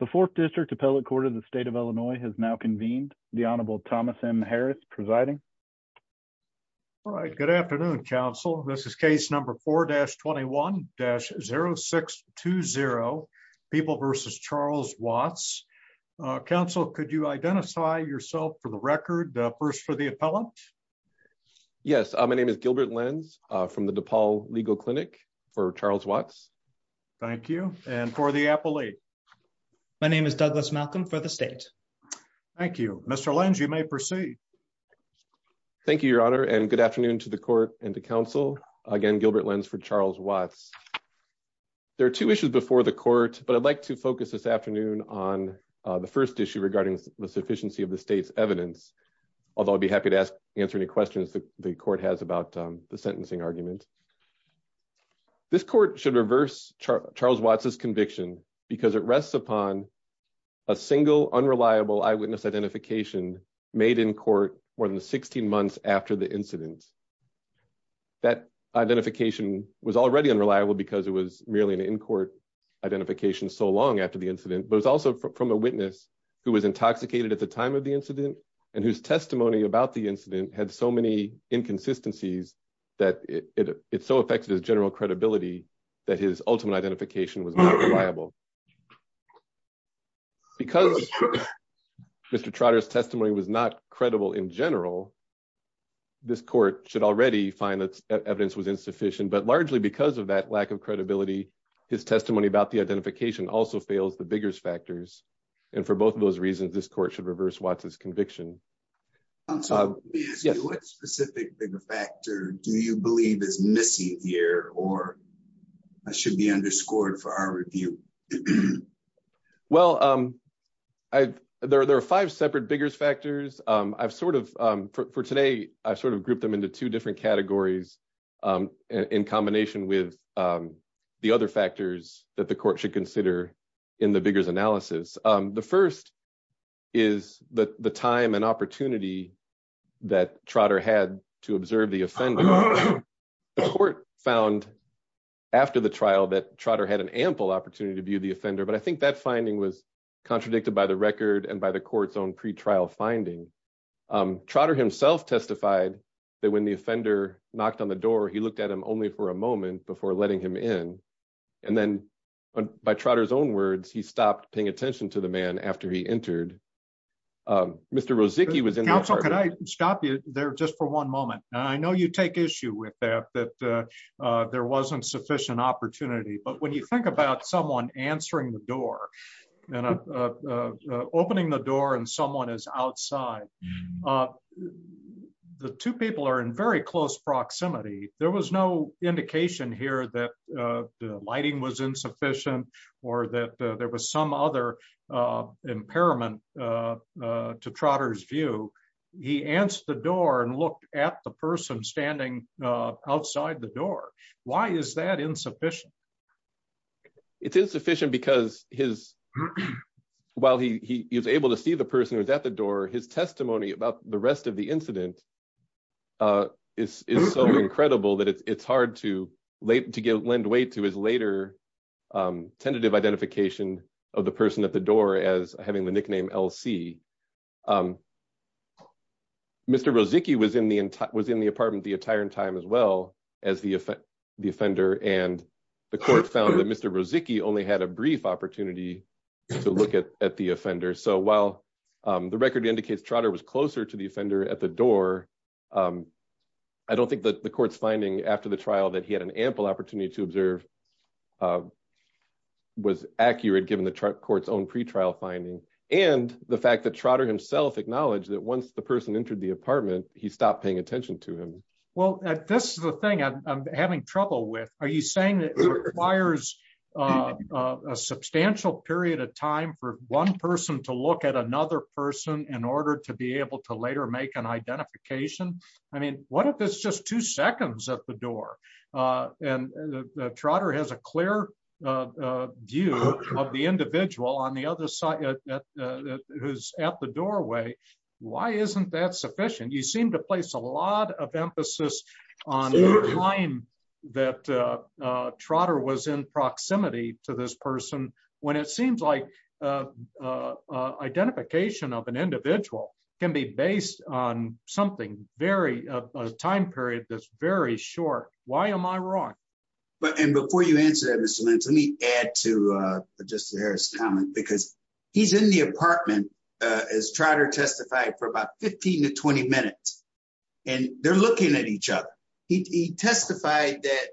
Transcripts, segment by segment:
The Fourth District Appellate Court of the State of Illinois has now convened. The Honorable Thomas M. Harris presiding. All right. Good afternoon, Counsel. This is case number 4-21-0620, People v. Charles Watts. Counsel, could you identify yourself for the record, first for the appellant? Yes. My name is Gilbert Lenz from the DePaul Legal Clinic for Charles Watts. Thank you. And for the appellate? My name is Douglas Malcolm for the state. Thank you. Mr. Lenz, you may proceed. Thank you, Your Honor, and good afternoon to the court and to counsel. Again, Gilbert Lenz for Charles Watts. There are two issues before the court, but I'd like to focus this afternoon on the first issue regarding the sufficiency of the state's evidence, although I'd be happy to answer any questions the court has about the sentencing argument. This court should reverse Charles Watts' conviction because it rests upon a single unreliable eyewitness identification made in court more than 16 months after the incident. That identification was already unreliable because it was merely an in-court identification so long after the incident, but it was also from a witness who was intoxicated at the time of the incident and whose testimony about the incident had so many inconsistencies that it so affected his general credibility that his ultimate identification was not reliable. Because Mr. Trotter's testimony was not credible in general, this court should already find that evidence was insufficient, but largely because of that lack of credibility, his testimony about the identification also fails the Biggers factors, and for both of those reasons, this court should reverse Watts' conviction. What specific Bigger factor do you believe is missing here or should be underscored for our review? Well, there are five separate Biggers factors. For today, I've sort of grouped them into two different categories in combination with the other factors that the court should consider in the Biggers analysis. The first is the time and opportunity that Trotter had to observe the offender. The court found after the trial that Trotter had an ample opportunity to view the offender, but I think that finding was contradicted by the record and by the court's pre-trial finding. Trotter himself testified that when the offender knocked on the door, he looked at him only for a moment before letting him in. And then by Trotter's own words, he stopped paying attention to the man after he entered. Mr. Rozicki was- Counsel, can I stop you there just for one moment? I know you take issue with that, that there wasn't sufficient opportunity, but when you think about someone answering the door and opening the door and someone is outside, the two people are in very close proximity. There was no indication here that the lighting was insufficient or that there was some other impairment to Trotter's view. He answered the door and looked at the person standing outside the door. Why is that insufficient? It's insufficient because while he was able to see the person who was at the door, his testimony about the rest of the incident is so incredible that it's hard to lend weight to his later tentative identification of the person at the door as having the nickname LC. Mr. Rozicki was in the apartment the entire time as well as the offender, and the court found that Mr. Rozicki only had a brief opportunity to look at the offender. So while the record indicates Trotter was closer to the offender at the door, I don't think that the court's finding after the trial that he had an ample opportunity to observe was accurate given the court's own pretrial finding and the fact that Trotter himself acknowledged that once the person entered the apartment, he stopped paying attention to him. Well, this is the thing I'm having trouble with. Are you saying that it requires a substantial period of time for one person to look at another person in order to be able to later make an identification? I mean, what if it's just two people who's at the doorway? Why isn't that sufficient? You seem to place a lot of emphasis on the time that Trotter was in proximity to this person when it seems like identification of an individual can be based on something, a time period that's very short. Why am I wrong? And before you answer that, Mr. Lynch, let me add to Justice Harris' comment because he's in the apartment, as Trotter testified, for about 15 to 20 minutes. And they're looking at each other. He testified that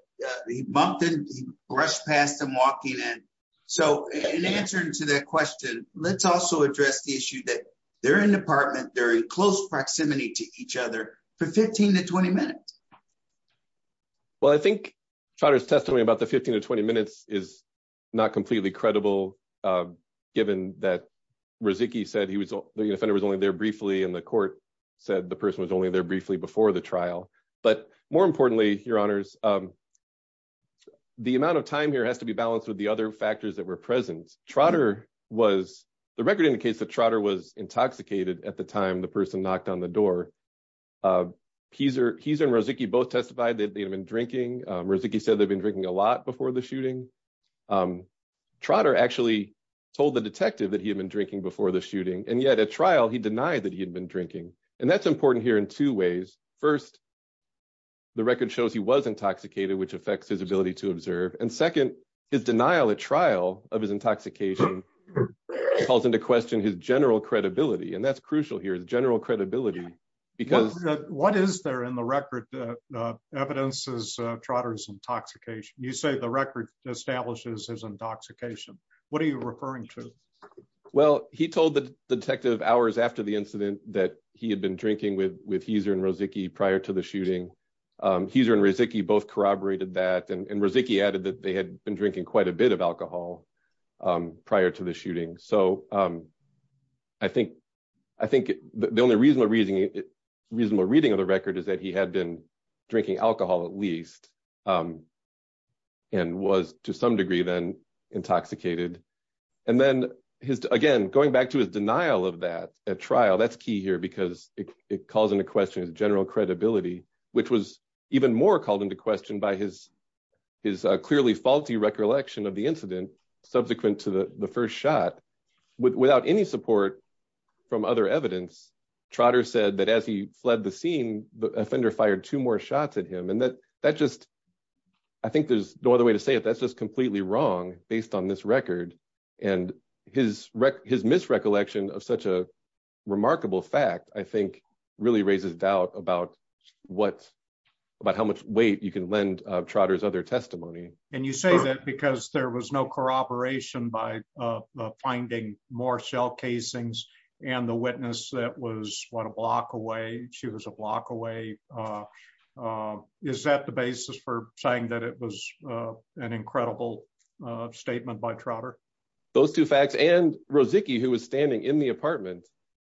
he bumped and brushed past him walking in. So in answer to that question, let's also address the issue that they're in the apartment, they're in close proximity to each other for 15 to 20 minutes. Well, I think Trotter's testimony about the 15 to 20 minutes is not completely credible, given that Riziki said the offender was only there briefly and the court said the person was only there briefly before the trial. But more importantly, Your Honors, the amount of time here has to be balanced with the other factors that were present. Trotter was, the record indicates that Trotter was intoxicated at the time the person knocked on the door. Heiser and Riziki both testified that they had been drinking. Riziki said they'd been drinking a lot before the shooting. Trotter actually told the detective that he had been drinking before the shooting. And yet at trial, he denied that he had been drinking. And that's important here in two ways. First, the record shows he was intoxicated, which affects his ability to observe. And second, his denial at trial of his intoxication calls into question his general credibility. And that's crucial here, his general credibility. What is there in the record that evidences Trotter's intoxication? You say the record establishes his intoxication. What are you referring to? Well, he told the detective hours after the incident that he had been drinking with Heiser and Riziki prior to the shooting. Heiser and Riziki both corroborated that. And Riziki added that they had been drinking quite a bit of alcohol prior to the shooting. So I think the only reasonable reading of the record is that he had been drinking alcohol at least and was to some degree then intoxicated. And then again, going back to his denial of that at trial, that's key here because it calls into question his general credibility, which was even more called into question by his clearly faulty recollection of the incident subsequent to the first shot. Without any support from other evidence, Trotter said that as he fled the scene, the offender fired two more shots at him. And I think there's no other way to say it, that's just completely wrong based on this record. And his misrecollection of such a weight, you can lend Trotter's other testimony. And you say that because there was no corroboration by finding more shell casings and the witness that was one block away, she was a block away. Is that the basis for saying that it was an incredible statement by Trotter? Those two facts and Riziki, who was standing in the apartment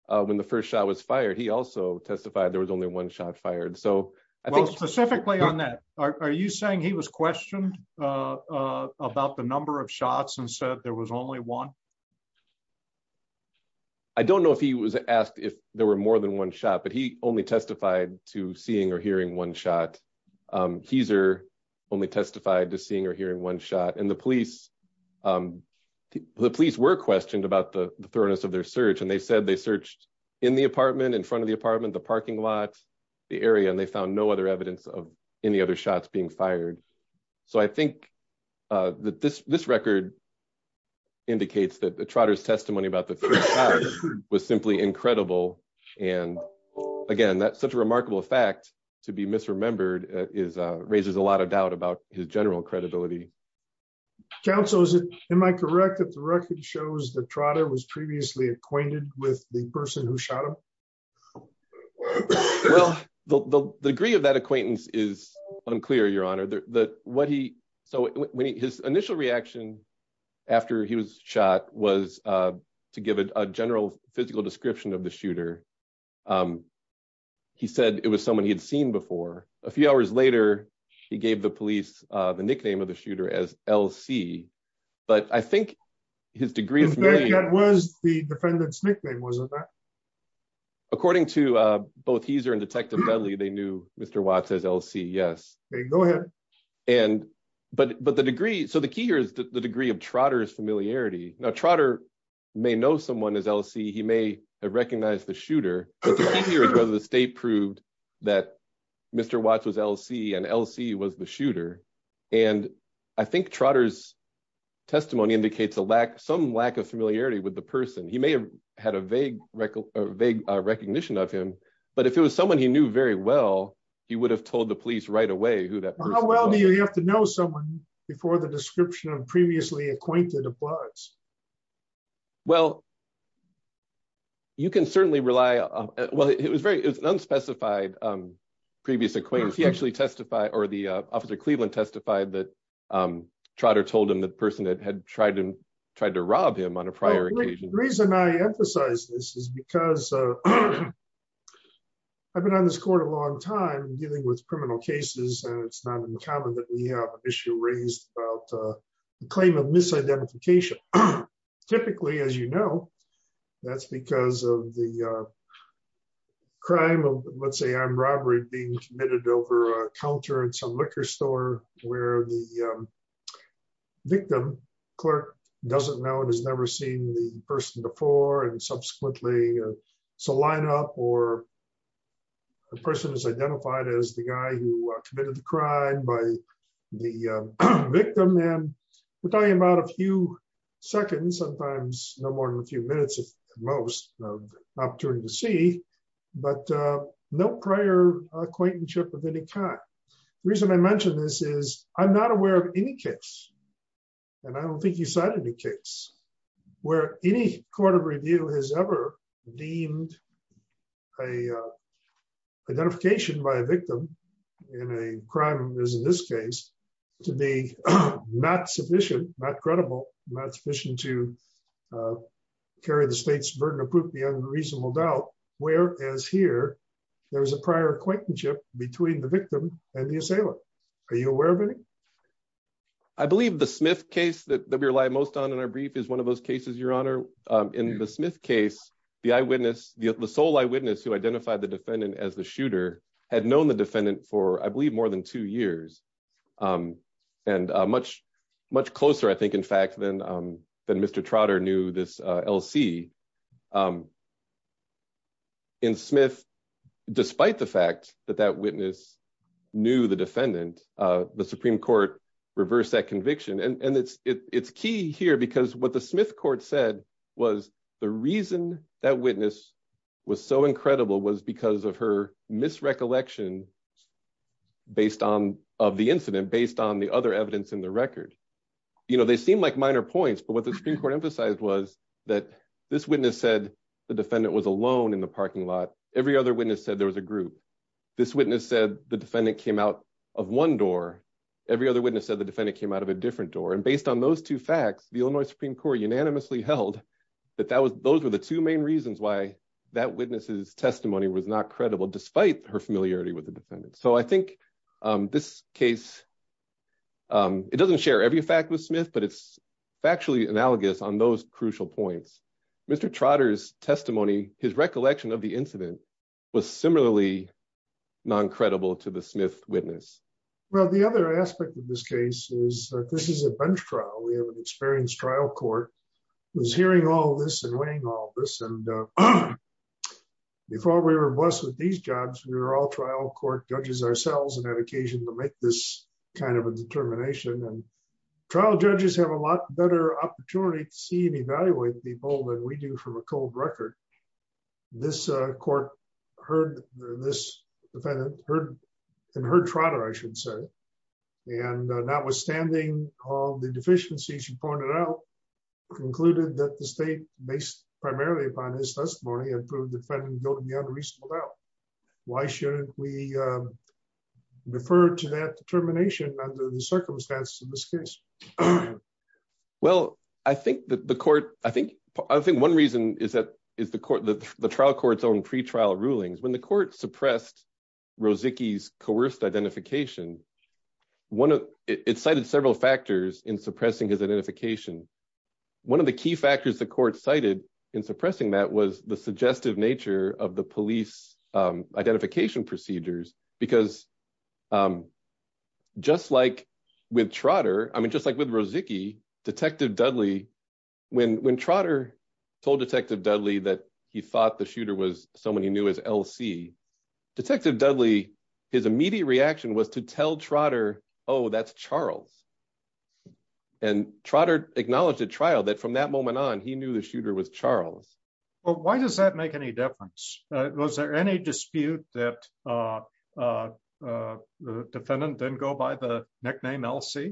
when the first shot was fired, he also testified there was only one shot fired. So I think specifically on that, are you saying he was questioned about the number of shots and said there was only one? I don't know if he was asked if there were more than one shot, but he only testified to seeing or hearing one shot. Hezer only testified to seeing or hearing one shot and the police, the police were questioned about the thoroughness of their search. And they said they searched in the apartment, in front of the apartment, the parking lot, the area, and they found no other evidence of any other shots being fired. So I think that this record indicates that Trotter's testimony about the first shot was simply incredible. And again, that's such a remarkable fact to be misremembered raises a lot of doubt about his general credibility. Counsel, am I correct that the record shows that Trotter was previously acquainted with the person who shot him? Well, the degree of that acquaintance is unclear, Your Honor. So his initial reaction after he was shot was to give a general physical description of the shooter. He said it was someone he had seen before. A few hours later, he gave the police the nickname of shooter as LC. But I think his degree of... That was the defendant's nickname, wasn't it? According to both Hezer and Detective Dudley, they knew Mr. Watts as LC, yes. Okay, go ahead. But the degree, so the key here is the degree of Trotter's familiarity. Now, Trotter may know someone as LC, he may have recognized the shooter, but the key here is the state proved that Mr. Watts was LC and LC was the shooter. And I think Trotter's testimony indicates some lack of familiarity with the person. He may have had a vague recognition of him, but if it was someone he knew very well, he would have told the police right away who that person was. How well do you have to know someone before the description of previously acquainted of Watts? Well, you can certainly rely on... Well, it was an unspecified previous acquaintance. He actually testified or the officer of Cleveland testified that Trotter told him the person that had tried to rob him on a prior occasion. The reason I emphasize this is because I've been on this court a long time dealing with criminal cases and it's not uncommon that we have issue raised about the claim of misidentification. Typically, as you know, that's because of the crime of, let's say, armed robbery being committed over a counter in some liquor store where the victim clerk doesn't know and has never seen the person before and subsequently it's a lineup or the person is identified as the guy who committed the crime by the victim. And we're talking about a few seconds, sometimes no more than a few minutes at most of opportunity to see, but no prior acquaintanceship of any kind. The reason I mentioned this is I'm not aware of any case, and I don't think you cited any case, where any court of review has ever deemed a identification by a victim in a crime, as in this case, to be not sufficient, not credible, not sufficient to carry the state's burden of proof beyond a reasonable doubt, whereas here there was a prior acquaintanceship between the victim and the assailant. Are you aware of any? I believe the Smith case that we rely most on in our brief is one of those cases, Your Honor. In the Smith case, the eyewitness, the sole eyewitness who identified the defendant as the shooter had known the defendant for, I believe, more than two years and much closer, I think, in fact, than Mr. Trotter knew this LC. In Smith, despite the fact that that witness knew the defendant, the Supreme Court reversed that conviction. It's key here because what the Smith court said was the reason that witness was so incredible was because of her misrecollection of the incident based on the other evidence in the record. They seem like minor points, but what the Supreme Court emphasized was that this witness said the defendant was alone in the parking lot. Every other witness said there was a group. This witness said the defendant came out of one door. Every other witness said the defendant came out of a different door. And based on those two facts, the Illinois Supreme Court unanimously held that those were the two main reasons why that witness's testimony was not credible despite her familiarity with the defendant. So I think this case, it doesn't share every fact with Smith, but it's factually analogous on those crucial points. Mr. Trotter's testimony, his recollection of the incident, was similarly non-credible to the Smith witness. Well, the other aspect of this case is that this is a bench trial. We have an experienced trial court who's hearing all this and weighing all this. And before we were blessed with these jobs, we were all trial court judges ourselves and had occasion to make this kind of a determination. And trial judges have a lot better opportunity to see and evaluate people than we do from a cold record. This court heard this defendant, and heard Trotter, I should say, and notwithstanding all the deficiencies she pointed out, concluded that the state, based primarily upon his testimony, had proved the defendant guilty of the unreasonable bail. Why shouldn't we refer to that determination under the circumstances in this case? Well, I think one reason is the trial court's own pre-trial rulings. When the court suppressed Rozicki's coerced identification, it cited several factors in suppressing his identification. One of the key factors the court cited in suppressing that was the suggestive nature of the police identification procedures. Because just like with Trotter, I mean, just like with Rozicki, Detective Dudley, when Trotter told Detective Dudley that he thought the shooter was someone he knew as LC, Detective Dudley, his immediate reaction was to tell Trotter, oh, that's Charles. And Trotter acknowledged at trial that from that moment on, he knew the difference. Was there any dispute that the defendant didn't go by the nickname LC?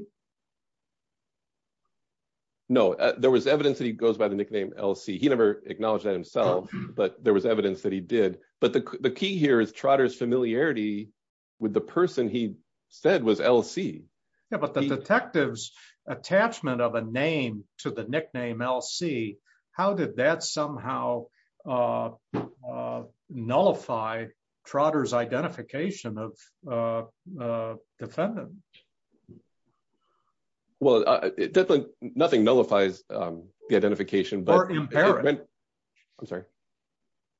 No, there was evidence that he goes by the nickname LC. He never acknowledged that himself, but there was evidence that he did. But the key here is Trotter's familiarity with the person he said was LC. Yeah, but the detective's attachment of a name to the nickname LC, how did that somehow nullify Trotter's identification of the defendant? Well, definitely nothing nullifies the identification. Or impair it. I'm sorry.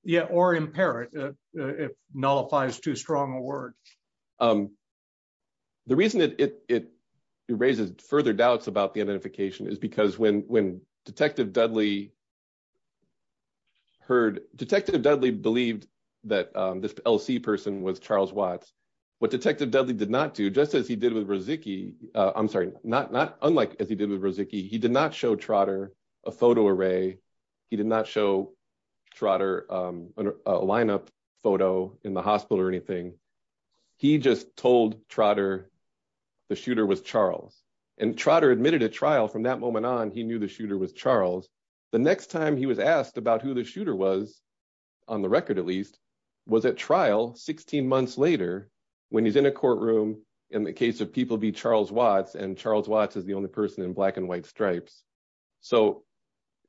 Yeah, or impair it. It nullifies too strong a word. The reason it raises further doubts about identification is because when Detective Dudley heard, Detective Dudley believed that this LC person was Charles Watts. What Detective Dudley did not do, just as he did with Rozicki, I'm sorry, not unlike as he did with Rozicki, he did not show Trotter a photo array. He did not show Trotter a lineup photo in the hospital or anything. He just told Trotter the shooter was Charles. And Trotter admitted at trial from that moment on, he knew the shooter was Charles. The next time he was asked about who the shooter was, on the record at least, was at trial 16 months later when he's in a courtroom in the case of people be Charles Watts, and Charles Watts is the only person in black and white stripes. So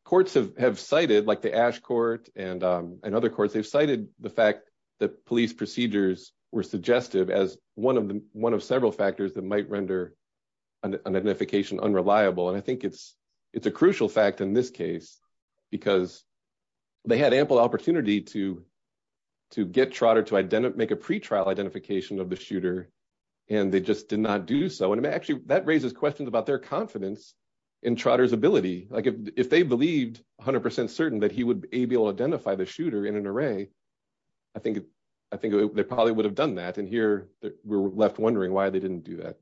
courts have cited, like the Ash Court and other courts, they've cited the fact that police procedures were suggestive as one of several factors that might render an identification unreliable. And I think it's a crucial fact in this case because they had ample opportunity to get Trotter to make a pretrial identification of the shooter and they just did not do so. And actually that raises questions about their confidence in Trotter's ability. Like if they believed 100% certain that he would be able to identify the shooter in an array, I think they probably would have done that. And here we're left wondering why they didn't do that.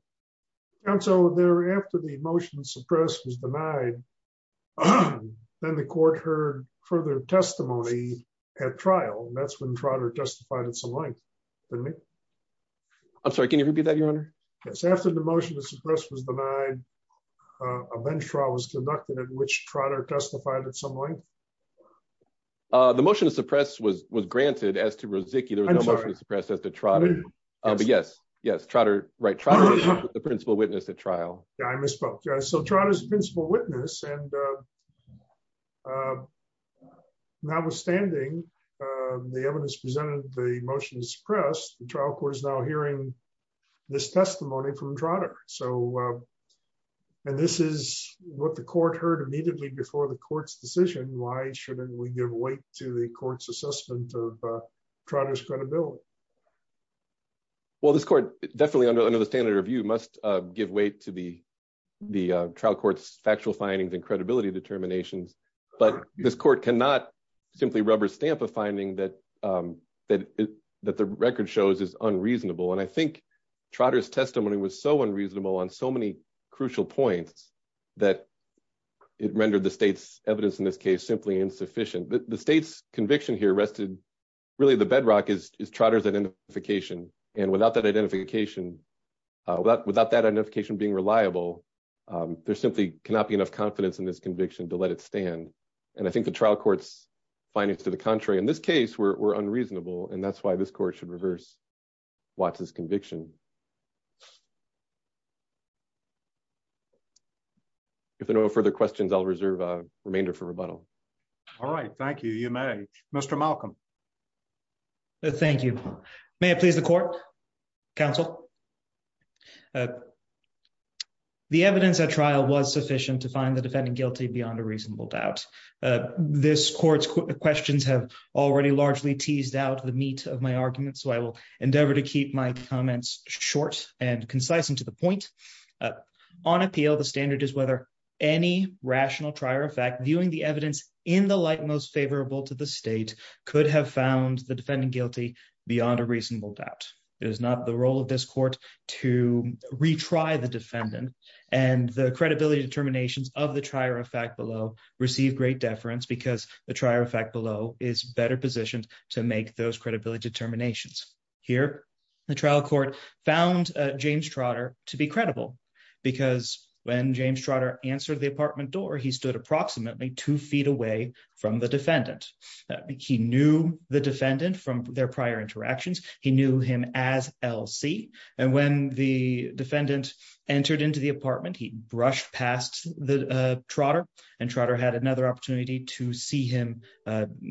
And so thereafter the motion to suppress was denied, then the court heard further testimony at trial, and that's when Trotter testified at some length. I'm sorry, can you repeat that, Your Honor? Yes, after the motion to suppress was denied, a bench trial was conducted at which Trotter testified at some length. The motion to suppress was granted as to Rosicki, there was no motion to suppress as to Trotter. But yes, yes, Trotter, right, Trotter was the principal witness at trial. Yeah, I misspoke. So Trotter's the principal witness and notwithstanding the evidence presented in the motion to suppress, the trial court is now hearing this testimony from Trotter. And this is what the court heard immediately before the court's decision, why shouldn't we give weight to the court's assessment of Trotter's credibility? Well, this court definitely under the standard of view must give weight to the trial court's factual findings and credibility determinations. But this court cannot simply rubber stamp a finding that the record shows is unreasonable. And I think Trotter's testimony was so unreasonable on so many crucial points that it rendered the state's evidence in this case simply insufficient. The state's conviction here rested, really the bedrock is Trotter's identification. And without that identification, without that identification being reliable, there simply cannot be enough confidence in this conviction to let it stand. And I think the trial court's findings to the contrary in this case were unreasonable. And that's why this court should reverse Watts' conviction. If there are no further questions, I'll reserve a remainder for rebuttal. All right. Thank you. You may. Mr. Malcolm. Thank you. May I please the court, counsel? The evidence at trial was sufficient to find the defendant guilty beyond a reasonable doubt. This court's questions have already largely teased out the meat of my argument. So I will endeavor to keep my comments short and concise and to the point. On appeal, the standard is whether any rational trier of fact viewing the evidence in the light most favorable to the state could have found the defendant guilty beyond a reasonable doubt. It is not the role of this court to retry the defendant and the credibility determinations of the trier of fact below receive great deference because the trier of fact below is better positioned to make those credibility determinations. Here, the trial court found James Trotter to be credible because when James Trotter answered the apartment door, he stood approximately two feet away from the defendant. He knew the defendant from their prior interactions. He knew him as LC. And when the defendant entered into the apartment, he brushed past Trotter and Trotter had another opportunity to see him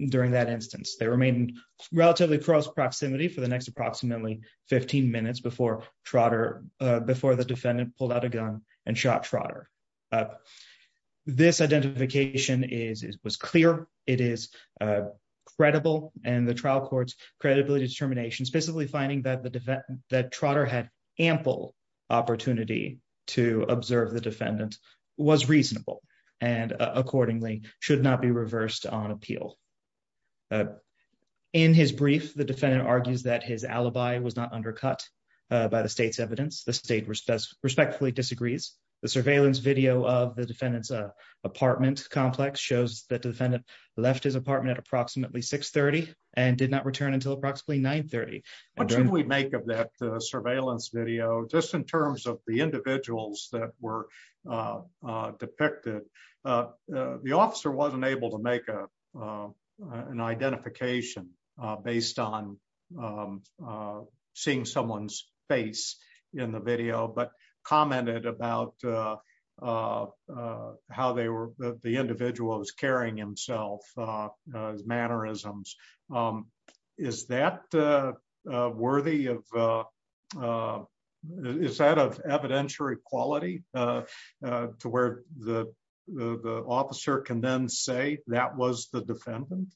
during that instance. They remained relatively close proximity for the next approximately 15 minutes before Trotter, before the defendant pulled out a gun and shot Trotter. This identification was clear. It is credible and the trial court's credibility determinations specifically finding that Trotter had ample opportunity to observe the defendant was reasonable and accordingly should not be reversed on appeal. In his brief, the defendant argues that his alibi was not undercut by the state's evidence. The state respectfully disagrees. The surveillance video of the defendant's apartment complex shows that the defendant left his apartment at approximately 630 and did not return until approximately 930. What should we make of that surveillance video just in terms of the individuals that were depicted? The officer wasn't able to make a an identification based on seeing someone's face in the video, but commented about how they were the individuals carrying himself as mannerisms. Is that worthy of evidential equality to where the officer can then say that was the defendant?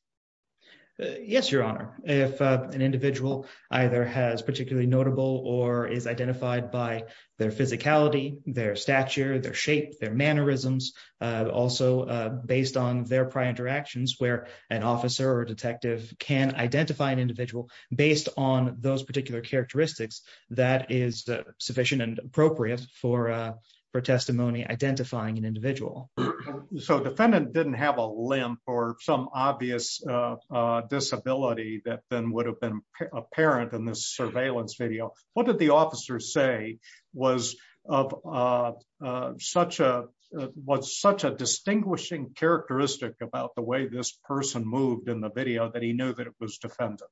Yes, your honor. If an individual either has particularly notable or is identified by their physicality, their stature, their shape, their mannerisms, also based on their prior interactions where an officer or detective can identify an individual based on those particular characteristics, that is sufficient and appropriate for testimony identifying an individual. So defendant didn't have a limp or some obvious disability that then would have been apparent in this surveillance video. What did the officer say was of such a distinguishing characteristic about the way this person moved in the video that he knew that it was the defendant?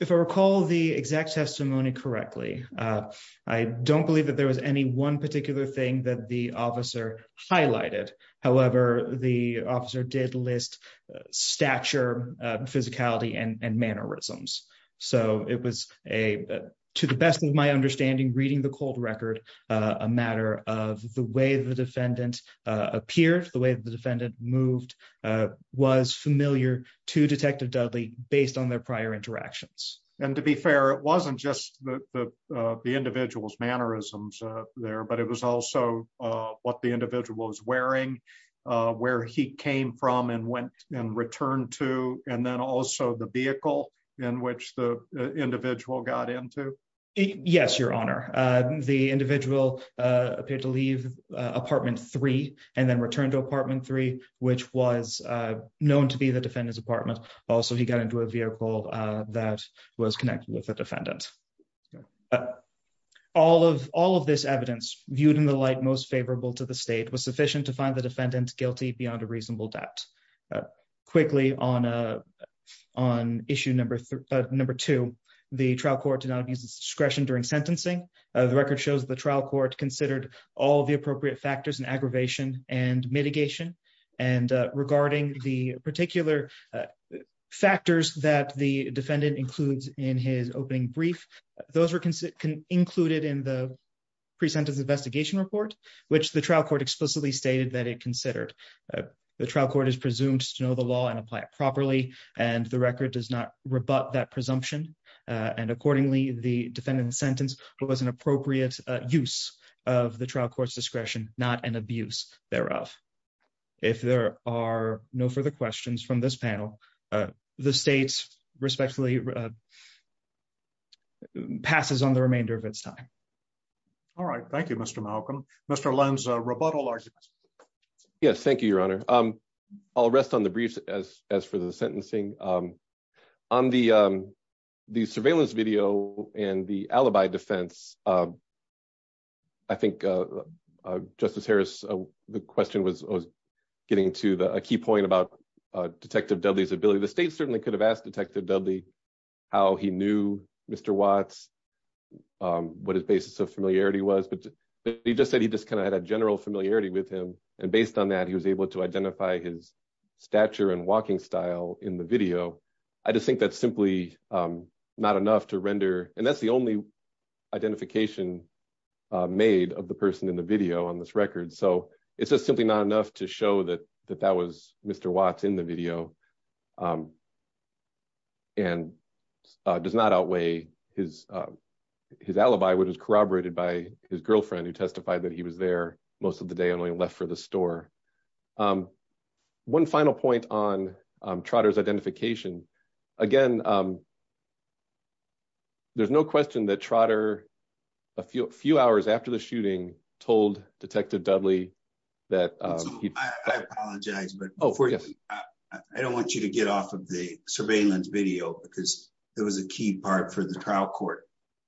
If I recall the exact testimony correctly, I don't believe that there was any one particular thing that the officer highlighted. However, the officer did list stature, physicality, and mannerisms. So it was, to the best of my understanding, reading the cold record, a matter of the way the defendant appeared, the way the defendant moved, was familiar to Detective Dudley based on their prior interactions. And to be fair, it wasn't just the individual's mannerisms there, but it was also what the individual was wearing, where he came from and went and returned to, and then also the vehicle in which the individual got into. Yes, your honor. The individual appeared to leave apartment three and then returned to apartment three, which was known to be the defendant's apartment. Also, he got into a vehicle that was connected with the defendant. All of this evidence, viewed in the light most favorable to the state, was sufficient to find the defendant guilty beyond a reasonable doubt. Quickly, on issue number two, the trial court did not use discretion during sentencing. The record shows the trial court considered all the appropriate factors in aggravation and mitigation. And regarding the particular factors that the defendant includes in his opening brief, those were included in the pre-sentence investigation report, which the trial court explicitly stated that it considered. The trial court is presumed to know the law and apply it properly, and the record does not rebut that presumption. And accordingly, the defendant's sentence was an appropriate use of the trial court's discretion, not an abuse thereof. If there are no further questions from this panel, the state respectfully passes on the remainder of its time. All right, thank you, Mr. Malcolm. Mr. Lenz, rebuttal arguments. Yes, thank you, your honor. I'll rest on the briefs as for the sentencing. On the Justice Harris, the question was getting to a key point about Detective Dudley's ability. The state certainly could have asked Detective Dudley how he knew Mr. Watts, what his basis of familiarity was, but he just said he just kind of had a general familiarity with him. And based on that, he was able to identify his stature and walking style in the video. I just think that's simply not enough to render, and that's the only identification made of the person in the video on this record, so it's just simply not enough to show that that was Mr. Watts in the video and does not outweigh his alibi, which was corroborated by his girlfriend who testified that he was there most of the day and only left for the store. One final point on Trotter's identification. Again, there's no question that Trotter, a few hours after the shooting, told Detective Dudley that... I apologize, but I don't want you to get off of the surveillance video because there was a key part for the trial court.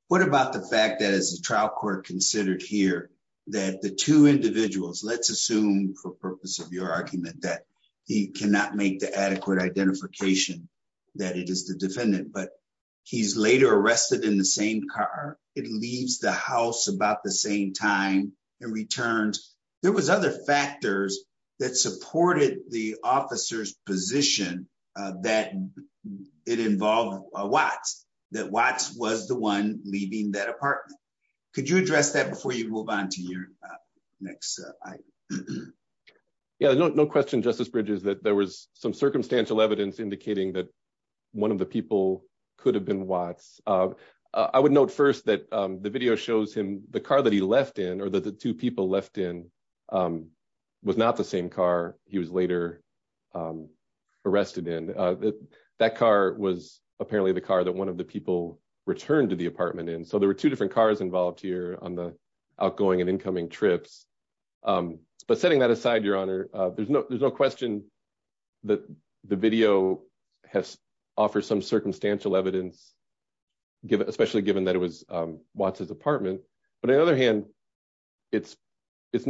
What about the fact that, as the trial court considered here, that the two individuals, let's assume for purpose of your argument that he cannot make the adequate identification that it is the defendant, but he's later arrested in the same car. It leaves the house about the same time and returns. There was other factors that supported the officer's position that it involved Watts, that Watts was the one leaving that apartment. Could you address that before you move on to your next item? Yeah, no question, Justice Bridges, that there was some circumstantial evidence indicating that one of the people could have been Watts. I would note first that the video shows him, the car that he left in or that the two people left in was not the same car he was later arrested in. That car was apparently the car that one of the people returned to the apartment in. So there were two different cars involved here on the outgoing and incoming trips. But setting that circumstantial evidence, especially given that it was Watts' apartment. But on the other hand, that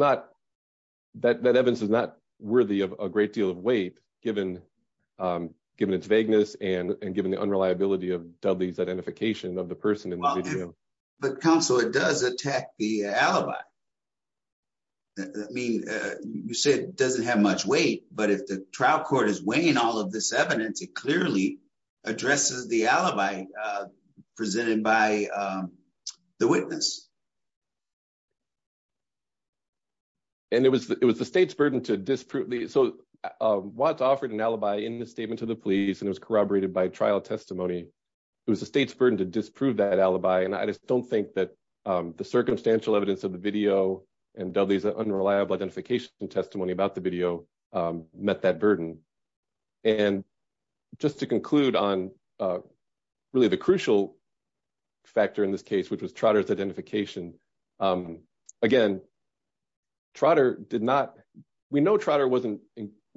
evidence is not worthy of a great deal of weight given its vagueness and given the unreliability of Dudley's identification of the person in the video. But counsel, it does attack the alibi. You said it doesn't have much weight, but if the trial court is weighing all of this evidence, it clearly addresses the alibi presented by the witness. And it was the state's burden to disprove. So Watts offered an alibi in the statement to the police and it was corroborated by trial testimony. It was the state's burden to disprove that alibi. And I just don't think that the circumstantial evidence of the video and Dudley's unreliable identification testimony about the video met that burden. And just to conclude on really the crucial factor in this case, which was Trotter's identification. Again, Trotter did not, we know Trotter wasn't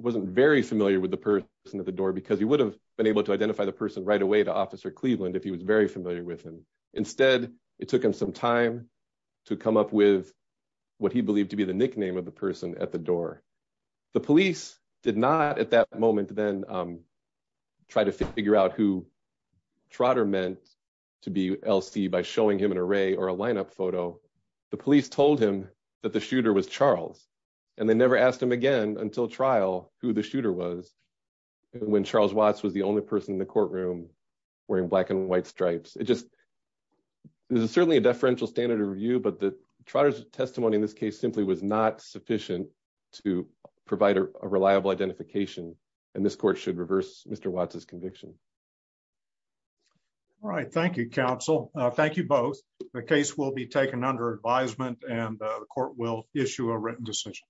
very familiar with the person at the door because he would have been able to identify the person right away to Officer Cleveland if he was very familiar with him. Instead, it took him some time to come up with what he believed to be the person at the door. The police did not at that moment then try to figure out who Trotter meant to be LC by showing him an array or a lineup photo. The police told him that the shooter was Charles and they never asked him again until trial who the shooter was when Charles Watts was the only person in the courtroom wearing black and white stripes. It just, there's certainly a standard review, but the Trotter's testimony in this case simply was not sufficient to provide a reliable identification. And this court should reverse Mr. Watts's conviction. All right. Thank you, counsel. Thank you both. The case will be taken under advisement and the court will issue a written decision.